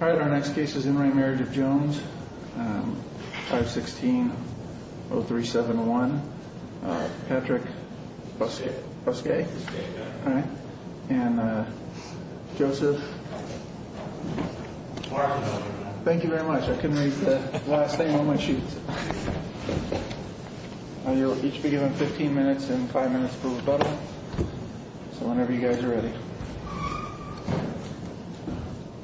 Alright, our next case is in re Marriage of Jones, 516-0371. Patrick Busquet? Busquet. Alright. And Joseph? Thank you very much. I couldn't read the last name on my sheet. You'll each be given 15 minutes and 5 minutes for rebuttal. So whenever you guys are ready.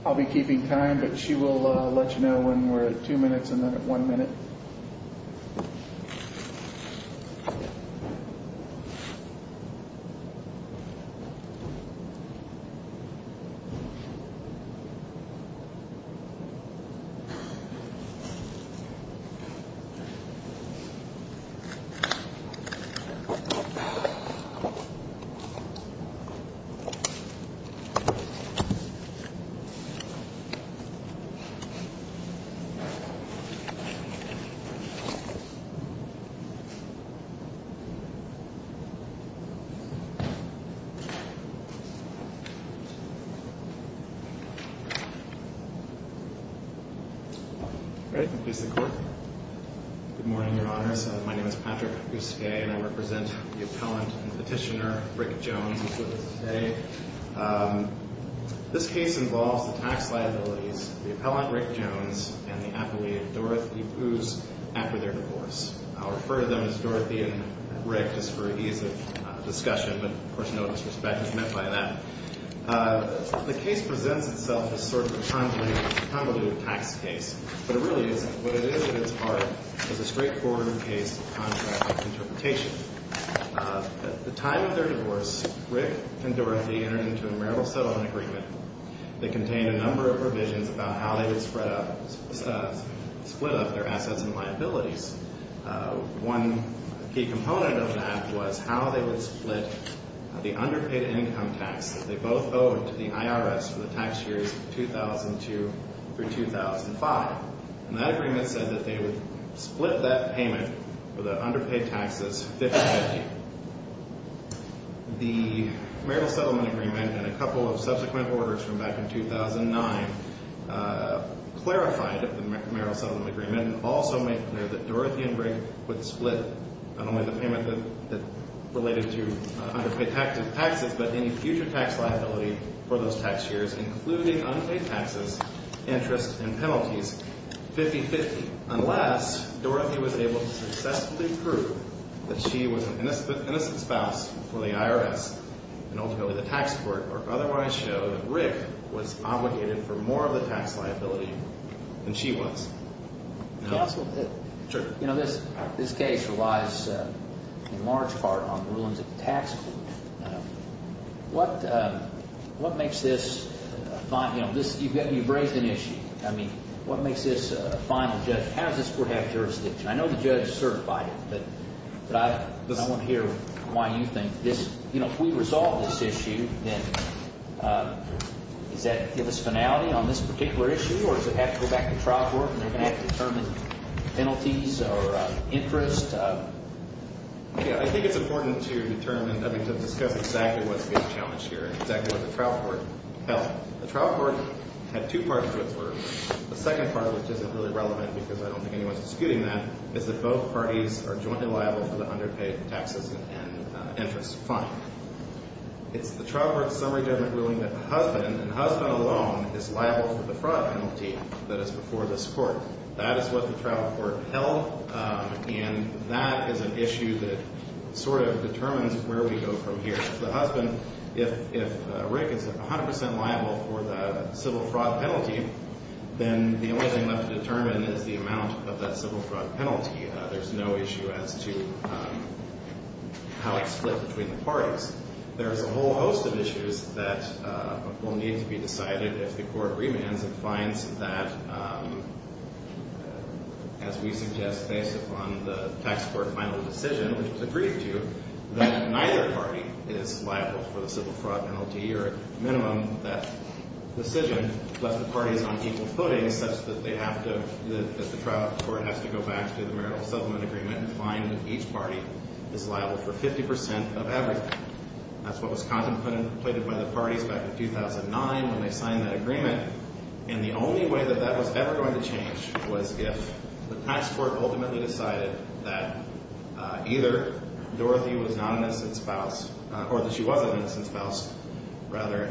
I'll be keeping time, but she will let you know when we're at 2 minutes and then at 1 minute. Alright. Good morning, your honors. My name is Patrick Busquet and I represent the appellant and petitioner Rick Jones. This case involves the tax liabilities, the appellant Rick Jones and the appellee Dorothy Boos after their divorce. I'll refer to them as Dorothy and Rick just for ease of discussion, but of course no disrespect is meant by that. The case presents itself as sort of a convoluted tax case, but it really isn't. What it is at its heart is a straightforward case of contract interpretation. At the time of their divorce, Rick and Dorothy entered into a marital settlement agreement that contained a number of revisions about how they would split up their assets and liabilities. One key component of that was how they would split the underpaid income tax that they both owed to the IRS for the tax years of 2002 through 2005. And that agreement said that they would split that payment for the underpaid taxes 50-50. The marital settlement agreement and a couple of subsequent orders from back in 2009 clarified the marital settlement agreement and also made clear that Dorothy and Rick would split not only the payment that related to underpaid taxes, but any future tax liability for those tax years including unpaid taxes, interest, and penalties 50-50. Unless Dorothy was able to successfully prove that she was an innocent spouse for the IRS and ultimately the tax court, or otherwise show that Rick was obligated for more of the tax liability than she was. Counsel, this case relies in large part on the rulings of the tax court. You've raised an issue. What makes this a final judgment? How does this court have jurisdiction? I know the judge certified it, but I want to hear why you think this... Does that give us finality on this particular issue? Or does it have to go back to trial court and they're going to have to determine penalties or interest? Yeah, I think it's important to determine, I think, to discuss exactly what's being challenged here, exactly what the trial court held. The trial court had two parts to it. The second part, which isn't really relevant because I don't think anyone's disputing that, is that both parties are jointly liable for the underpaid taxes and interest fine. It's the trial court's summary judgment ruling that the husband, and the husband alone, is liable for the fraud penalty that is before this court. That is what the trial court held, and that is an issue that sort of determines where we go from here. The husband, if Rick is 100 percent liable for the civil fraud penalty, then the only thing left to determine is the amount of that civil fraud penalty. There's no issue as to how it's split between the parties. There's a whole host of issues that will need to be decided if the court remands and finds that, as we suggest based upon the tax court final decision, which it's agreed to, that neither party is liable for the civil fraud penalty, or at minimum that decision, left the parties on equal footing such that they have to, that the trial court has to go back to the marital settlement agreement and find that each party is liable for 50 percent of everything. That's what was contemplated by the parties back in 2009 when they signed that agreement, and the only way that that was ever going to change was if the tax court ultimately decided that either Dorothy was not an innocent spouse, or that she was an innocent spouse, rather,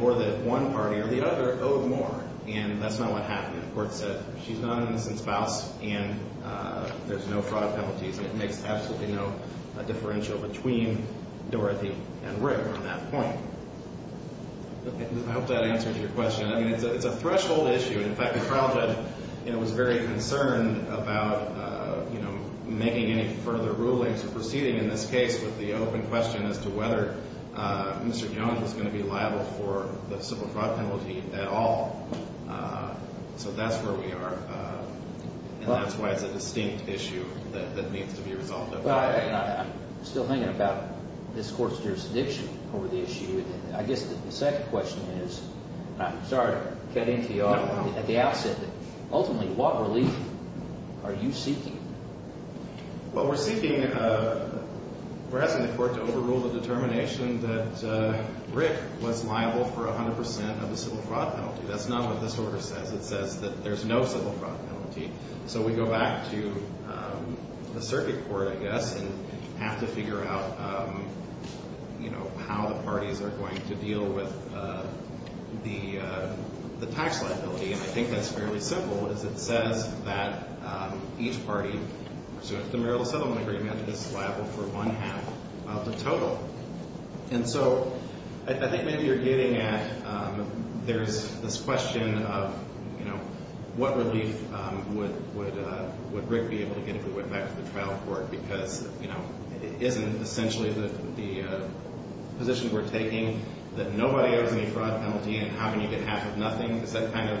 or that one party or the other owed more. And that's not what happened. The court said she's not an innocent spouse and there's no fraud penalties, and it makes absolutely no differential between Dorothy and Rick on that point. I hope that answers your question. I mean, it's a threshold issue. In fact, the trial judge was very concerned about making any further rulings or proceeding in this case with the open question as to whether Mr. Young was going to be liable for the civil fraud penalty at all. So that's where we are, and that's why it's a distinct issue that needs to be resolved. I'm still thinking about this court's jurisdiction over the issue. I guess the second question is, and I'm sorry to cut into you at the outset, but ultimately what relief are you seeking? Well, we're seeking, we're asking the court to overrule the determination that Rick was liable for 100 percent of the civil fraud penalty. That's not what this order says. It says that there's no civil fraud penalty. So we go back to the circuit court, I guess, and have to figure out how the parties are going to deal with the tax liability. And I think that's fairly simple, is it says that each party pursuant to the marital settlement agreement is liable for one half of the total. And so I think maybe you're getting at there's this question of, you know, what relief would Rick be able to get if he went back to the trial court? Because, you know, it isn't essentially the position we're taking that nobody owes any fraud penalty, and how can you get half of nothing? Is that kind of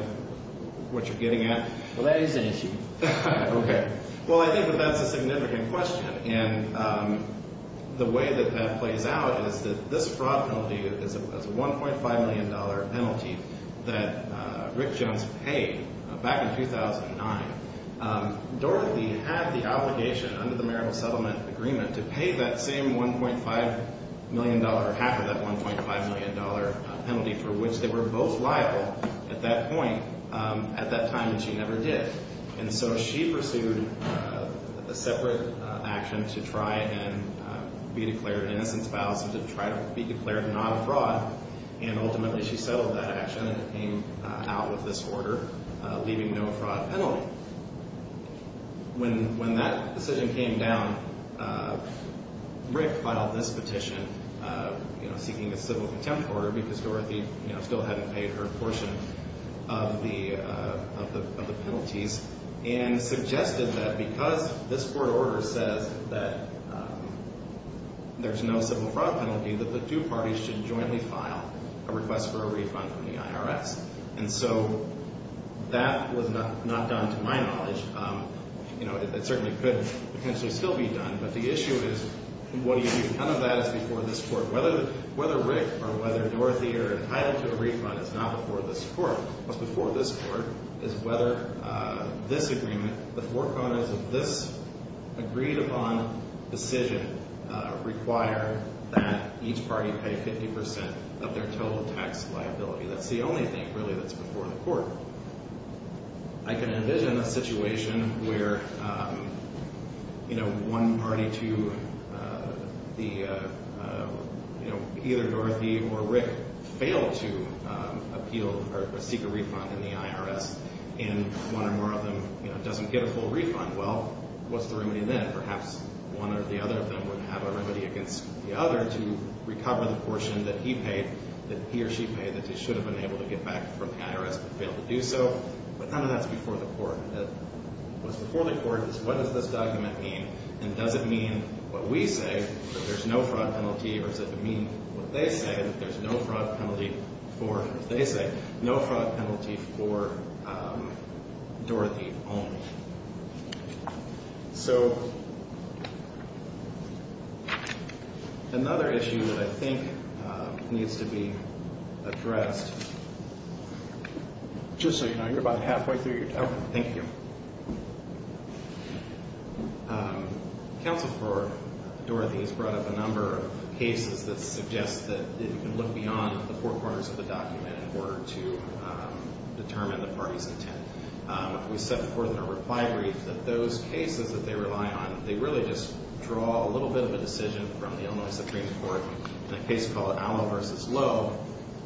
what you're getting at? Well, that is an issue. Okay. Well, I think that that's a significant question. And the way that that plays out is that this fraud penalty is a $1.5 million penalty that Rick Jones paid back in 2009. Dorothy had the obligation under the marital settlement agreement to pay that same $1.5 million, half of that $1.5 million penalty for which they were both liable at that point at that time, and she never did. And so she pursued a separate action to try and be declared an innocent spouse and to try to be declared not a fraud. And ultimately she settled that action and came out with this order, leaving no fraud penalty. When that decision came down, Rick filed this petition, you know, seeking a civil contempt order because Dorothy, you know, still hadn't paid her portion of the penalties, and suggested that because this court order says that there's no civil fraud penalty, that the two parties should jointly file a request for a refund from the IRS. And so that was not done to my knowledge. You know, it certainly could potentially still be done, but the issue is what do you do? None of that is before this court. Whether Rick or whether Dorothy are entitled to a refund is not before this court. What's before this court is whether this agreement, the four corners of this agreed upon decision require that each party pay 50% of their total tax liability. That's the only thing, really, that's before the court. I can envision a situation where, you know, one party to the, you know, either Dorothy or Rick fail to appeal or seek a refund in the IRS, and one or more of them, you know, doesn't get a full refund. Well, what's the remedy then? Perhaps one or the other of them would have a remedy against the other to recover the portion that he paid, that he or she paid, that they should have been able to get back from the IRS but failed to do so. But none of that's before the court. What's before the court is what does this document mean, and does it mean what we say, that there's no fraud penalty, or does it mean what they say, that there's no fraud penalty for, as they say, no fraud penalty for Dorothy only. So another issue that I think needs to be addressed. Just so you know, you're about halfway through your talk. Thank you. Counsel for Dorothy has brought up a number of cases that suggest that you can look beyond the four corners of the document in order to determine the party's intent. We said before in our reply brief that those cases that they rely on, they really just draw a little bit of a decision from the Illinois Supreme Court in a case called Allo v. Lowe,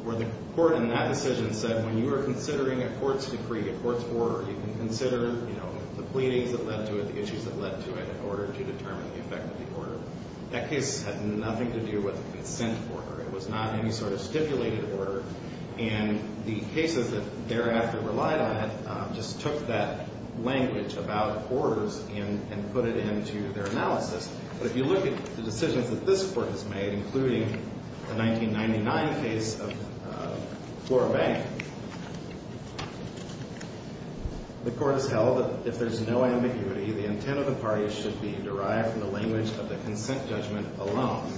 where the court in that decision said, when you are considering a court's decree, a court's order, you can consider, you know, the pleadings that led to it, the issues that led to it, in order to determine the effect of the order. That case had nothing to do with a consent order. It was not any sort of stipulated order. And the cases that thereafter relied on it just took that language about orders and put it into their analysis. But if you look at the decisions that this Court has made, including the 1999 case of Flora Bank, the Court has held that if there's no ambiguity, the intent of the parties should be derived from the language of the consent judgment alone.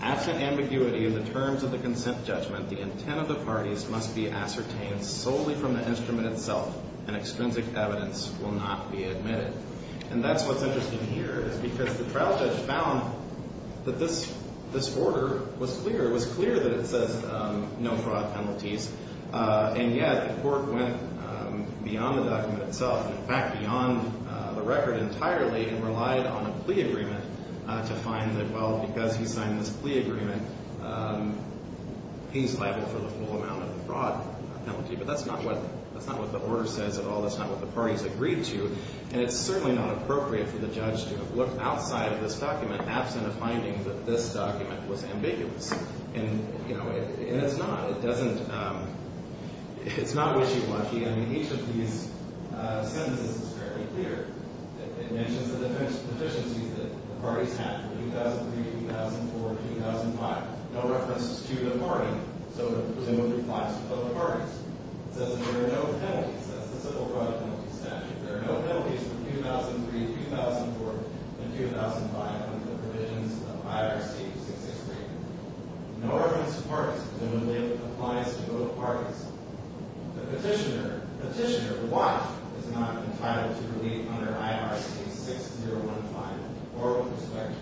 Absent ambiguity in the terms of the consent judgment, the intent of the parties must be ascertained solely from the instrument itself, and extrinsic evidence will not be admitted. And that's what's interesting here, is because the trial judge found that this order was clear. It was clear that it says no fraud penalties, and yet the Court went beyond the document itself, in fact, beyond the record entirely, and relied on a plea agreement to find that, well, because he signed this plea agreement, he's liable for the full amount of the fraud penalty. But that's not what the order says at all. That's not what the parties agreed to. And it's certainly not appropriate for the judge to have looked outside of this document, absent a finding that this document was ambiguous. And, you know, it's not. It doesn't – it's not wishy-washy. I mean, each of these sentences is fairly clear. It mentions the deficiencies that the parties had from 2003 to 2004 to 2005. No reference to the party, so it presumably applies to both parties. It says that there are no penalties. That's the civil fraud penalty statute. There are no penalties from 2003 to 2004 and 2005 under the provisions of IRC 663. No reference to parties, presumably applies to both parties. The petitioner, the petitioner, why is not entitled to relief under IRC 6015 or with respect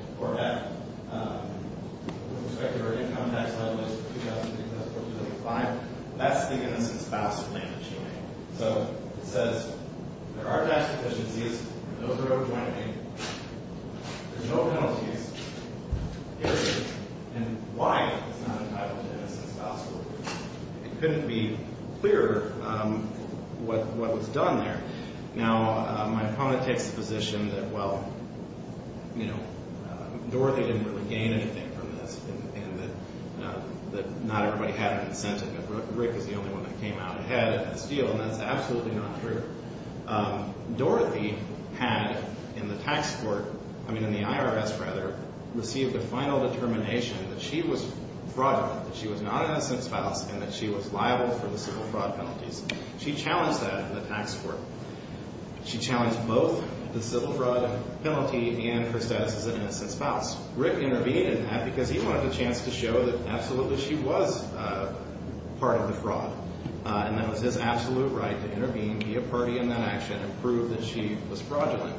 to her income tax level in 2003 to 2004 to 2005? That's the innocent spouse claim that she made. So it says there are tax deficiencies. Those are overjoined. There's no penalties. And why is not entitled to innocent spouse relief? It couldn't be clearer what was done there. Now, my opponent takes the position that, well, you know, Dorothy didn't really gain anything from this and that not everybody had a consent. Rick is the only one that came out ahead at this deal, and that's absolutely not true. Dorothy had in the tax court, I mean in the IRS rather, received a final determination that she was fraudulent, that she was not an innocent spouse, and that she was liable for the civil fraud penalties. She challenged that in the tax court. She challenged both the civil fraud penalty and her status as an innocent spouse. Rick intervened in that because he wanted a chance to show that absolutely she was part of the fraud. And that was his absolute right to intervene, be a party in that action, and prove that she was fraudulent.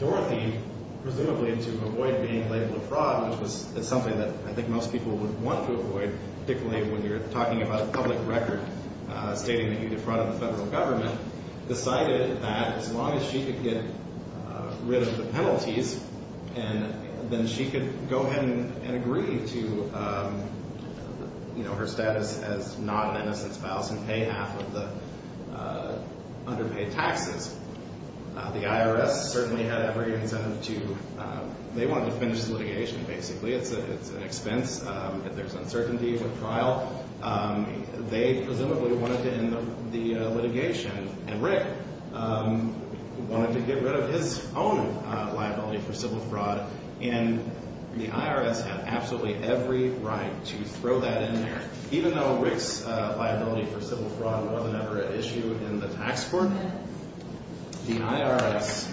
Dorothy, presumably to avoid being labeled a fraud, which is something that I think most people would want to avoid, particularly when you're talking about a public record stating that you defrauded the federal government, decided that as long as she could get rid of the penalties, then she could go ahead and agree to her status as not an innocent spouse and pay half of the underpaid taxes. The IRS certainly had every incentive to, they wanted to finish the litigation basically. It's an expense. If there's uncertainty with trial, they presumably wanted to end the litigation. And Rick wanted to get rid of his own liability for civil fraud. And the IRS had absolutely every right to throw that in there. Even though Rick's liability for civil fraud wasn't ever an issue in the tax court, the IRS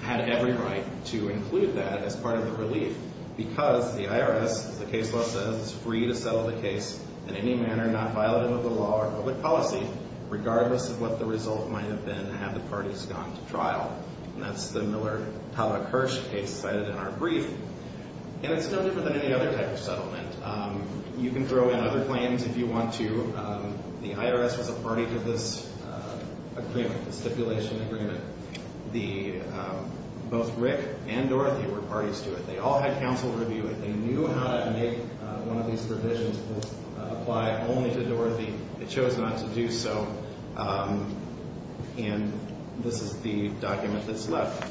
had every right to include that as part of the relief. Because the IRS, as the case law says, is free to settle the case in any manner, not violative of the law or public policy, regardless of what the result might have been to have the parties gone to trial. And that's the Miller-Tavakursh case cited in our brief. And you can throw in other claims if you want to. The IRS was a party to this agreement, the stipulation agreement. Both Rick and Dorothy were parties to it. They all had counsel review it. They knew how to make one of these provisions apply only to Dorothy. It chose not to do so. And this is the document that's left.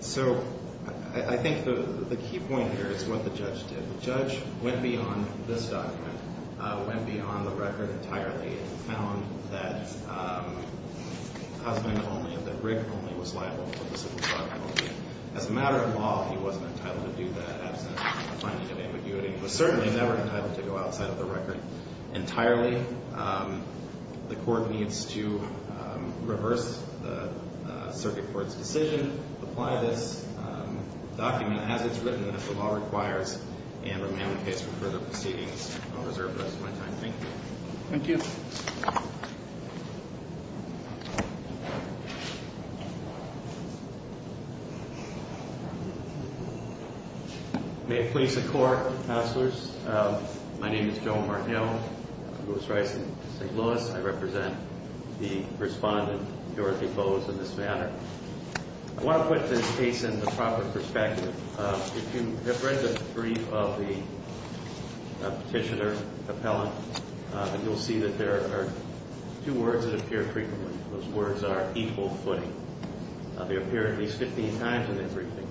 So I think the key point here is what the judge did. The judge went beyond this document, went beyond the record entirely, and found that husband only, that Rick only, was liable for the civil fraud penalty. As a matter of law, he wasn't entitled to do that, absent the finding of ambiguity. He was certainly never entitled to go outside of the record entirely. The court needs to reverse the circuit court's decision, apply this document as it's written, if the law requires, and remain on the case for further proceedings. I'll reserve the rest of my time. Thank you. Thank you. May it please the Court, Counselors. My name is Joe Martineau. I'm Louis Rice in St. Louis. I represent the respondent, Dorothy Bowes, in this manner. I want to put this case in the proper perspective. If you have read the brief of the petitioner, appellant, you'll see that there are two words that appear frequently. Those words are equal footing. They appear at least 15 times in that briefing.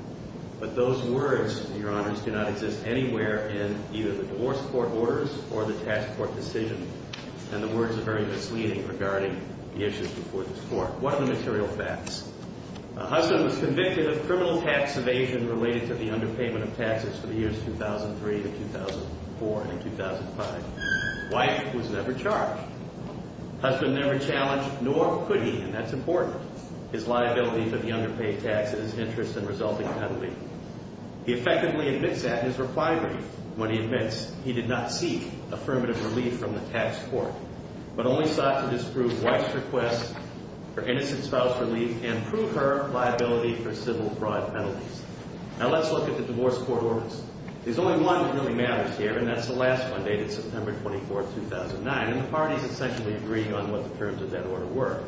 But those words, Your Honors, do not exist anywhere in either the divorce court orders or the tax court decision. And the words are very misleading regarding the issues before this Court. What are the material facts? A husband was convicted of criminal tax evasion related to the underpayment of taxes for the years 2003 to 2004 and in 2005. Wife was never charged. Husband never challenged, nor could he, and that's important, his liability for the underpaid taxes, interest, and resulting penalty. He effectively admits that in his reply brief when he admits he did not seek affirmative relief from the tax court but only sought to disprove wife's request for innocent spouse relief and prove her liability for civil fraud penalties. Now let's look at the divorce court orders. There's only one that really matters here, and that's the last one, dated September 24, 2009, and the parties essentially agreed on what the terms of that order were.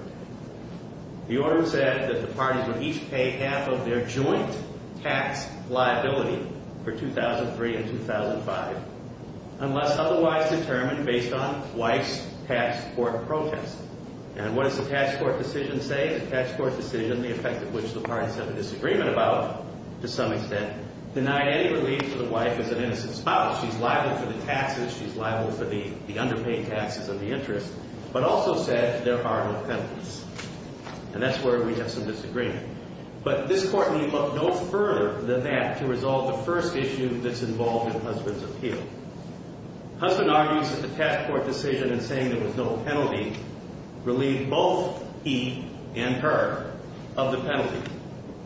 The order said that the parties would each pay half of their joint tax liability for 2003 and 2005 unless otherwise determined based on wife's tax court protest. And what does the tax court decision say? The tax court decision, the effect of which the parties have a disagreement about to some extent, denied any relief to the wife as an innocent spouse. She's liable for the taxes. She's liable for the underpaid taxes and the interest but also said there are no penalties. And that's where we have some disagreement. But this court needs to look no further than that to resolve the first issue that's involved in husband's appeal. Husband argues that the tax court decision in saying there was no penalty relieved both he and her of the penalty.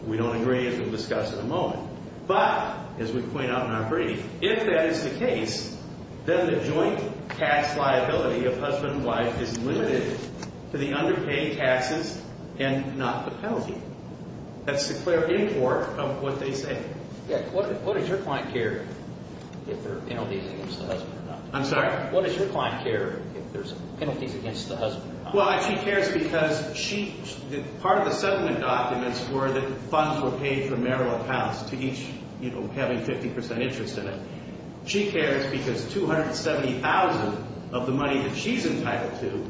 We don't agree as we'll discuss in a moment. But, as we point out in our brief, if that is the case, then the joint tax liability of husband and wife is limited to the underpaid taxes and not the penalty. That's the clear import of what they say. What does your client care if there are penalties against the husband or not? I'm sorry? What does your client care if there's penalties against the husband or not? Well, she cares because part of the settlement documents were that funds were paid for marital accounts to each having 50% interest in it. She cares because $270,000 of the money that she's entitled to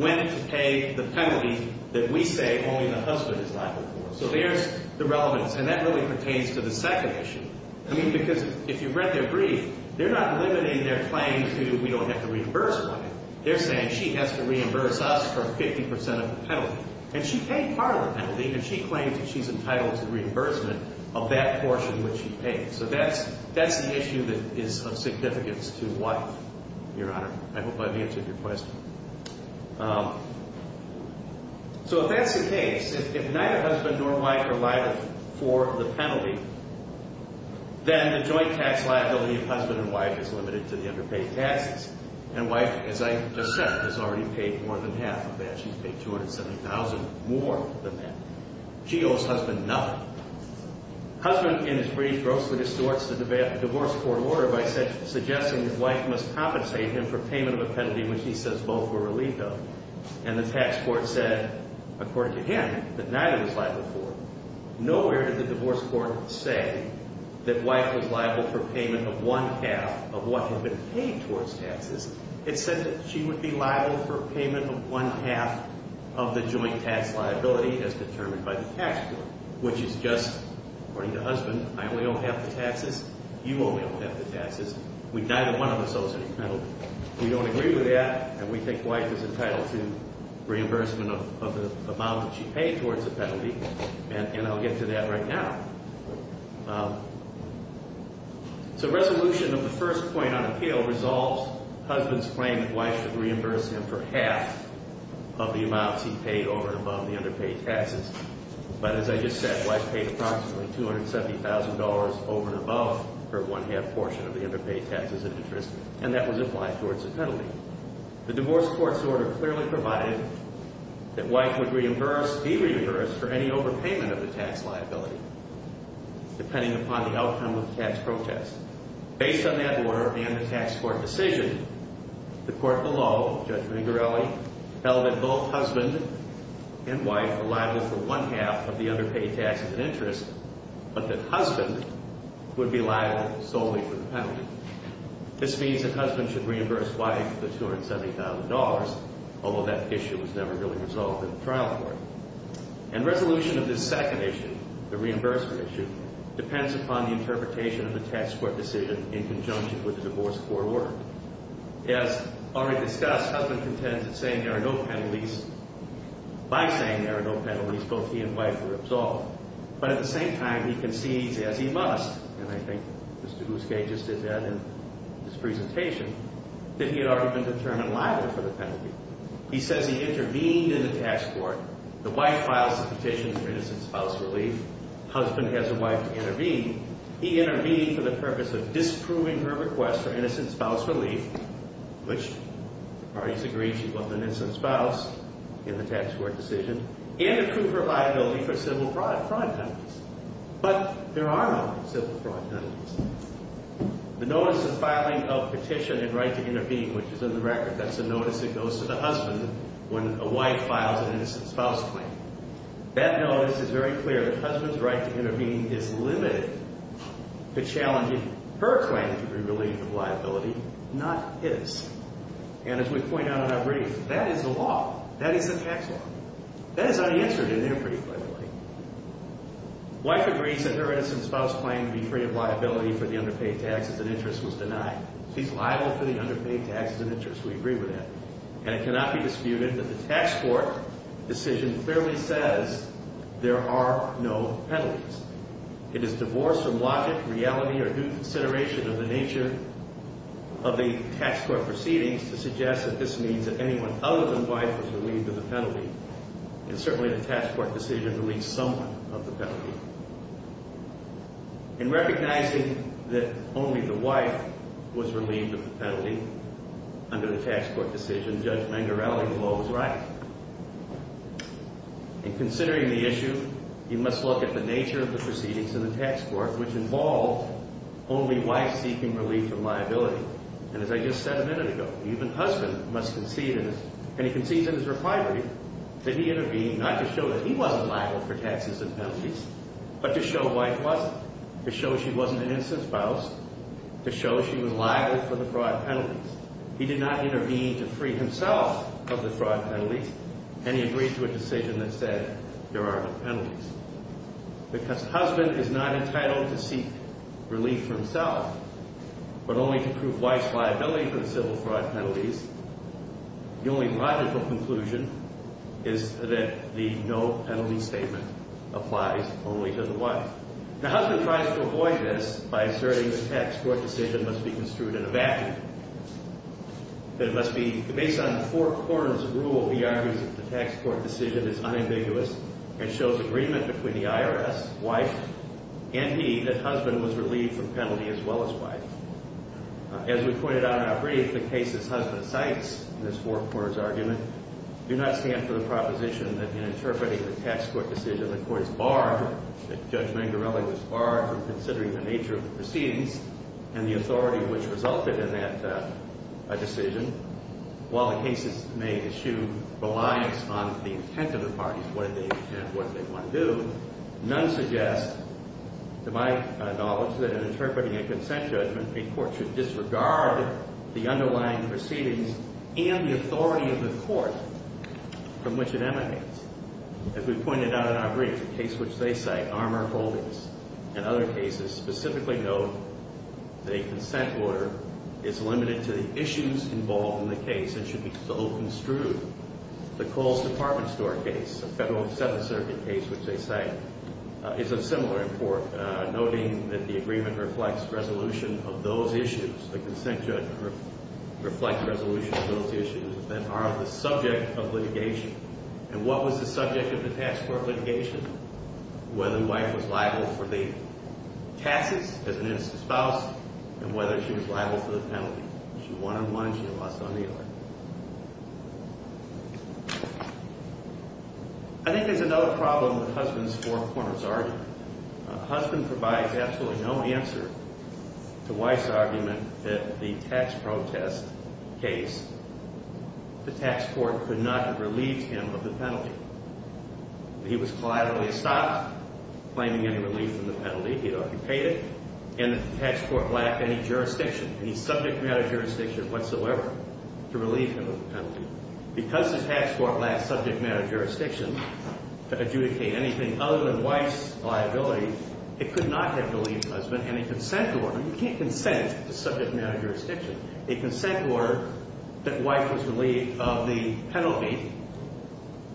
went to pay the penalty that we say only the husband is liable for. So there's the relevance. And that really pertains to the second issue. I mean, because if you read their brief, they're not limiting their claim to we don't have to reimburse money. They're saying she has to reimburse us for 50% of the penalty. And she paid part of the penalty, and she claims that she's entitled to reimbursement of that portion which she paid. So that's the issue that is of significance to wife, Your Honor. I hope I've answered your question. So if that's the case, if neither husband nor wife are liable for the penalty, then the joint tax liability of husband and wife is limited to the underpaid taxes. And wife, as I just said, has already paid more than half of that. She's paid $270,000 more than that. She owes husband nothing. Husband, in his brief, grossly distorts the divorce court order by suggesting that wife must compensate him for payment of a penalty which he says both were relieved of. And the tax court said, according to him, that neither was liable for it. Nowhere did the divorce court say that wife was liable for payment of one-half of what had been paid towards taxes. It said that she would be liable for payment of one-half of the joint tax liability as determined by the tax court, which is just, according to husband, I only owe half the taxes. You only owe half the taxes. Neither one of us owes any penalty. We don't agree with that, and we think wife is entitled to reimbursement of the amount that she paid towards the penalty, and I'll get to that right now. So resolution of the first point on appeal resolves husband's claim that wife would reimburse him for half of the amounts he paid over and above the underpaid taxes. But as I just said, wife paid approximately $270,000 over and above her one-half portion of the underpaid taxes and interest, and that was applied towards the penalty. The divorce court's order clearly provided that wife would reimburse, be reimbursed for any overpayment of the tax liability depending upon the outcome of the tax protest. Based on that order and the tax court decision, the court below, Judge Rigorelli, held that both husband and wife were liable for one-half of the underpaid taxes and interest, but that husband would be liable solely for the penalty. This means that husband should reimburse wife the $270,000, although that issue was never really resolved in the trial court. And resolution of this second issue, the reimbursement issue, depends upon the interpretation of the tax court decision in conjunction with the divorce court order. As already discussed, husband contends that saying there are no penalties, by saying there are no penalties, both he and wife were absolved. But at the same time, he concedes, as he must, and I think Mr. Bousquet just did that in his presentation, that he had already been determined liable for the penalty. He says he intervened in the tax court. The wife files the petition for innocent spouse relief. Husband has a wife to intervene. He intervened for the purpose of disproving her request for innocent spouse relief, which the parties agreed she wasn't an innocent spouse in the tax court decision, and to prove her liability for civil fraud penalties. But there are no civil fraud penalties. The notice of filing of petition and right to intervene, which is in the record, that's a notice that goes to the husband when a wife files an innocent spouse claim. That notice is very clear. The husband's right to intervene is limited to challenging her claim to be relieved of liability, not his. And as we point out in our brief, that is the law. That is the tax law. That is unanswered in their brief, by the way. Wife agrees that her innocent spouse claim to be free of liability for the underpaid tax as an interest was denied. She's liable for the underpaid tax as an interest. We agree with that. And it cannot be disputed that the tax court decision clearly says there are no penalties. It is divorce or logic, reality, or due consideration of the nature of the tax court proceedings to suggest that this means that anyone other than the wife was relieved of the penalty. And certainly the tax court decision relieves someone of the penalty. In recognizing that only the wife was relieved of the penalty under the tax court decision, Judge Mangarelli's law was right. In considering the issue, you must look at the nature of the proceedings in the tax court, which involved only wife seeking relief from liability. And as I just said a minute ago, even husband must concede, and he concedes in his refinery, that he intervened not to show that he wasn't liable for taxes and penalties, but to show wife wasn't, to show she wasn't an innocent spouse, to show she was liable for the fraud penalties. He did not intervene to free himself of the fraud penalties, and he agreed to a decision that said there are no penalties. Because husband is not entitled to seek relief for himself, but only to prove wife's liability for the civil fraud penalties, the only logical conclusion is that the no penalty statement applies only to the wife. Now, husband tries to avoid this by asserting the tax court decision must be construed in a vacuum, that it must be based on four-quarters rule. He argues that the tax court decision is unambiguous and shows agreement between the IRS, wife, and he that husband was relieved from penalty as well as wife. As we pointed out in our brief, the cases husband cites in this four-quarters argument do not stand for the proposition that in interpreting the tax court decision, the court is barred, that Judge Mangarelli was barred from considering the nature of the proceedings and the authority which resulted in that decision. While the cases may eschew reliance on the intent of the parties, what they want to do, none suggest, to my knowledge, that in interpreting a consent judgment, a court should disregard the underlying proceedings and the authority of the court from which it emanates. As we pointed out in our brief, the case which they cite, Armour Holdings, and other cases specifically note the consent order is limited to the issues involved in the case and should be so construed. The Coles Department Store case, a Federal Seventh Circuit case which they cite, is of similar import, noting that the agreement reflects resolution of those issues. The consent judgment reflects resolution of those issues that are the subject of litigation. And what was the subject of the tax court litigation? Whether the wife was liable for the taxes as an innocent spouse and whether she was liable for the penalty. If she won and won, she lost on the other. I think there's another problem with Husband's Four Corners argument. Husband provides absolutely no answer to Wife's argument that the tax protest case, the tax court could not have relieved him of the penalty. He was collaterally stopped claiming any relief from the penalty. He had occupied it. And the tax court lacked any jurisdiction, any subject matter jurisdiction whatsoever, to relieve him of the penalty. Because the tax court lacked subject matter jurisdiction to adjudicate anything other than Wife's liability, it could not have relieved Husband any consent order. You can't consent to subject matter jurisdiction. A consent order that Wife was relieved of the penalty,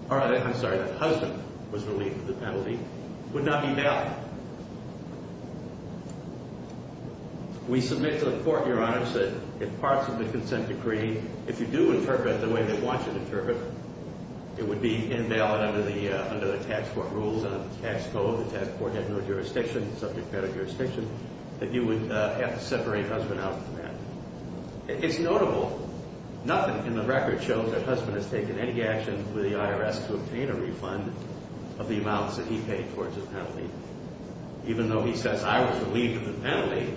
or I'm sorry, that Husband was relieved of the penalty, would not be valid. We submit to the court, Your Honor, that if parts of the consent decree, if you do interpret the way they want you to interpret, it would be invalid under the tax court rules and the tax code. The tax court had no jurisdiction, subject matter jurisdiction, that you would have to separate Husband out from that. It's notable. Nothing in the record shows that Husband has taken any action with the IRS to obtain a refund of the amounts that he paid towards the penalty. Even though he says, I was relieved of the penalty,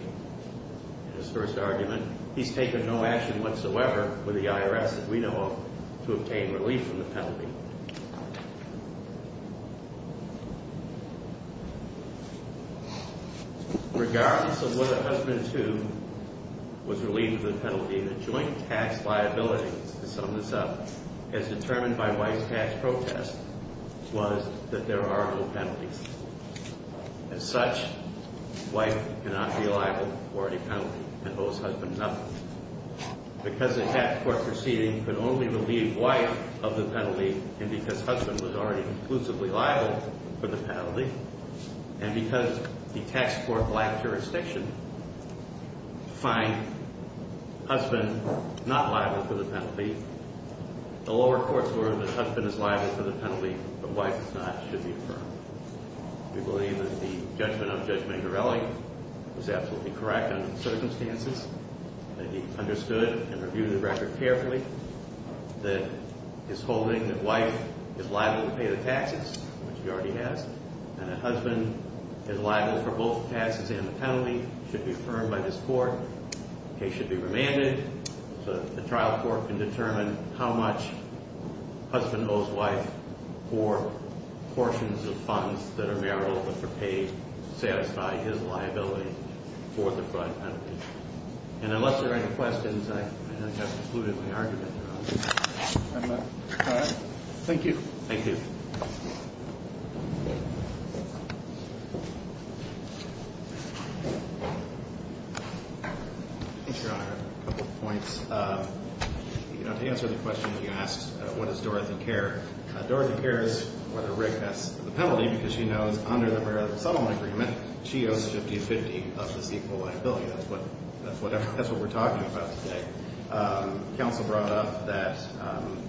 in his first argument, he's taken no action whatsoever with the IRS that we know of to obtain relief from the penalty. Thank you. Regardless of whether Husband, too, was relieved of the penalty, the joint tax liability, to sum this up, as determined by Wife's tax protest, was that there are no penalties. As such, Wife cannot be liable for any penalty and owes Husband nothing. Because the tax court proceeding could only relieve Wife of the penalty, and because Husband was already exclusively liable for the penalty, and because the tax court lacked jurisdiction to find Husband not liable for the penalty, the lower courts were that Husband is liable for the penalty, but Wife is not, should be affirmed. We believe that the judgment of Judge Mangarelli was absolutely correct under the circumstances, that he understood and reviewed the record carefully, that his holding that Wife is liable to pay the taxes, which she already has, and that Husband is liable for both the taxes and the penalty, should be affirmed by this court. The case should be remanded so that the trial court can determine how much Husband owes Wife for portions of funds that are marital, which are paid to satisfy his liability for the fund. And unless there are any questions, I have concluded my argument. Thank you. Thank you. Thanks, Your Honor. A couple of points. You know, to answer the question you asked, what is Dorothy Kerr? Dorothy Kerr is whether Rick has the penalty, because she knows under the marital settlement agreement, she owes 50-50 of this equal liability. That's what we're talking about today. Counsel brought up that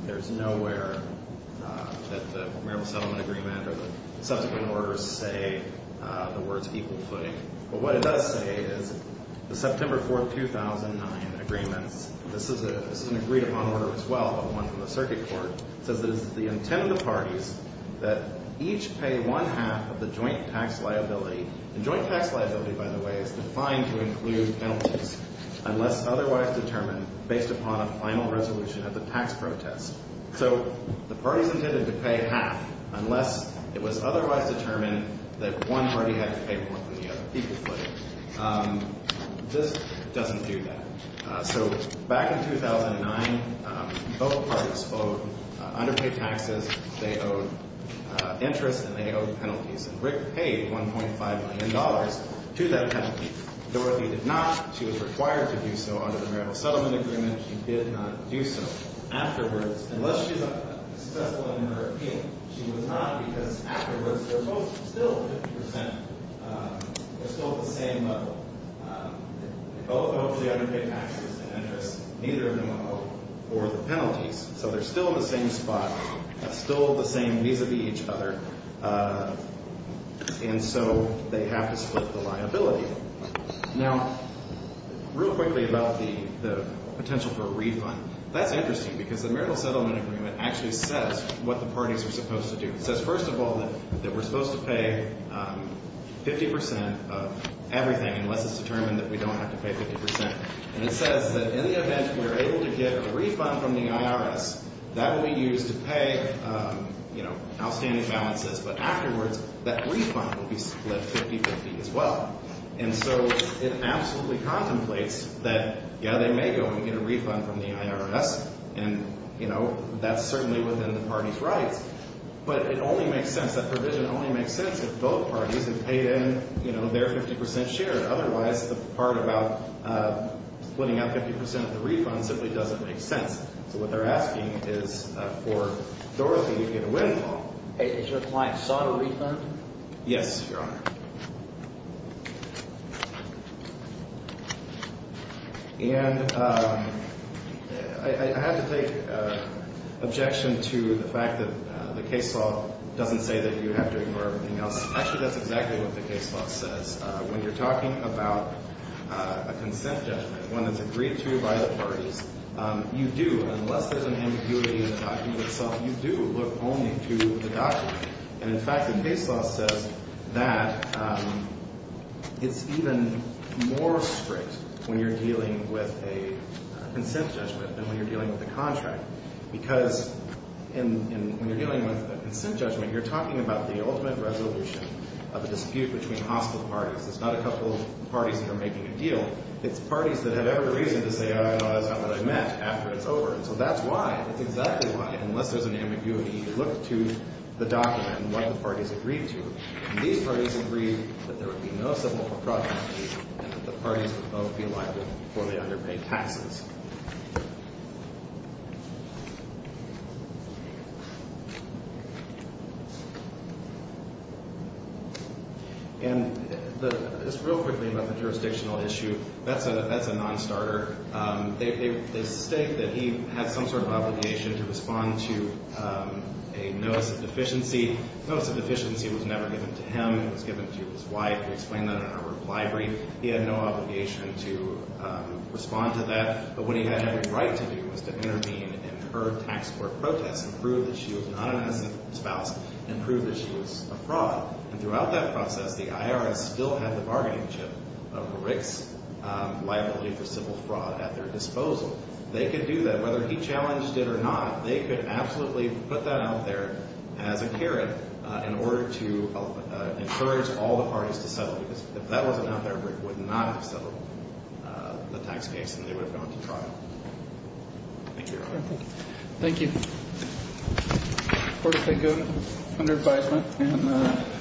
there's nowhere that the marital settlement agreement or the subsequent orders say the words equal footing. But what it does say is, the September 4, 2009 agreements, this is an agreed-upon order as well, but one from the circuit court, says that it's the intent of the parties that each pay one half of the joint tax liability. And joint tax liability, by the way, is defined to include penalties unless otherwise determined based upon a final resolution of the tax protest. So the parties intended to pay half unless it was otherwise determined that one party had to pay more than the other. Equal footing. This doesn't do that. So back in 2009, both parties owed underpaid taxes. They owed interest, and they owed penalties. And Rick paid $1.5 million to that penalty. Dorothy did not. She was required to do so under the marital settlement agreement. She did not do so. Afterwards, unless she's successful in her appeal, she was not, because afterwards, they're both still 50%... They're still at the same level. They both owed the underpaid taxes and interest. Neither of them owed the penalties. So they're still in the same spot and still the same vis-a-vis each other. And so they have to split the liability. Now, real quickly about the potential for a refund. That's interesting, because the marital settlement agreement actually says what the parties are supposed to do. It says, first of all, that we're supposed to pay 50% of everything unless it's determined that we don't have to pay 50%. And it says that in the event we're able to get a refund from the IRS, that will be used to pay outstanding balances. But afterwards, that refund will be split 50-50 as well. And so it absolutely contemplates that, yeah, they may go and get a refund from the IRS, and that's certainly within the party's rights. But it only makes sense, that provision only makes sense if both parties have paid in their 50% share. Otherwise, the part about splitting out 50% of the refund simply doesn't make sense. So what they're asking is for Dorothy to get a refund. Is your client sought a refund? Yes, Your Honor. And I have to take objection to the fact that the case law doesn't say that you have to ignore everything else. Actually, that's exactly what the case law says. When you're talking about a consent judgment, one that's agreed to by the parties, you do, unless there's an ambiguity in the document itself, you do look only to the document. And in fact, the case law says that it's even more strict when you're dealing with a consent judgment than when you're dealing with a contract. Because when you're dealing with a consent judgment, you're talking about the ultimate resolution of a dispute between hostile parties. It's not a couple of parties that are making a deal. It's parties that have every reason to say, oh, that's not what I meant, after it's over. And so that's why, that's exactly why, unless there's an ambiguity, you look to the document and what the parties agreed to. And these parties agreed that there would be no civil procracting and that the parties would both be liable for the underpaid taxes. And just real quickly about the jurisdictional issue, that's a non-starter. They state that he had some sort of obligation to respond to a notice of deficiency. A notice of deficiency was never given to him. It was given to his wife. We explain that in our reply brief. He had no obligation to respond to that. But what he had every right to do was to intervene in her tax court protests and prove that she was not an innocent spouse and prove that she was a fraud. And throughout that process, the IRS still had the bargaining chip of Rick's liability for civil fraud at their disposal. They could do that. Whether he challenged it or not, they could absolutely put that out there as a carrot in order to encourage all the parties to settle. Because if that wasn't out there, Rick would not have settled the tax case and they would have gone to trial. Thank you, Your Honor. Thank you.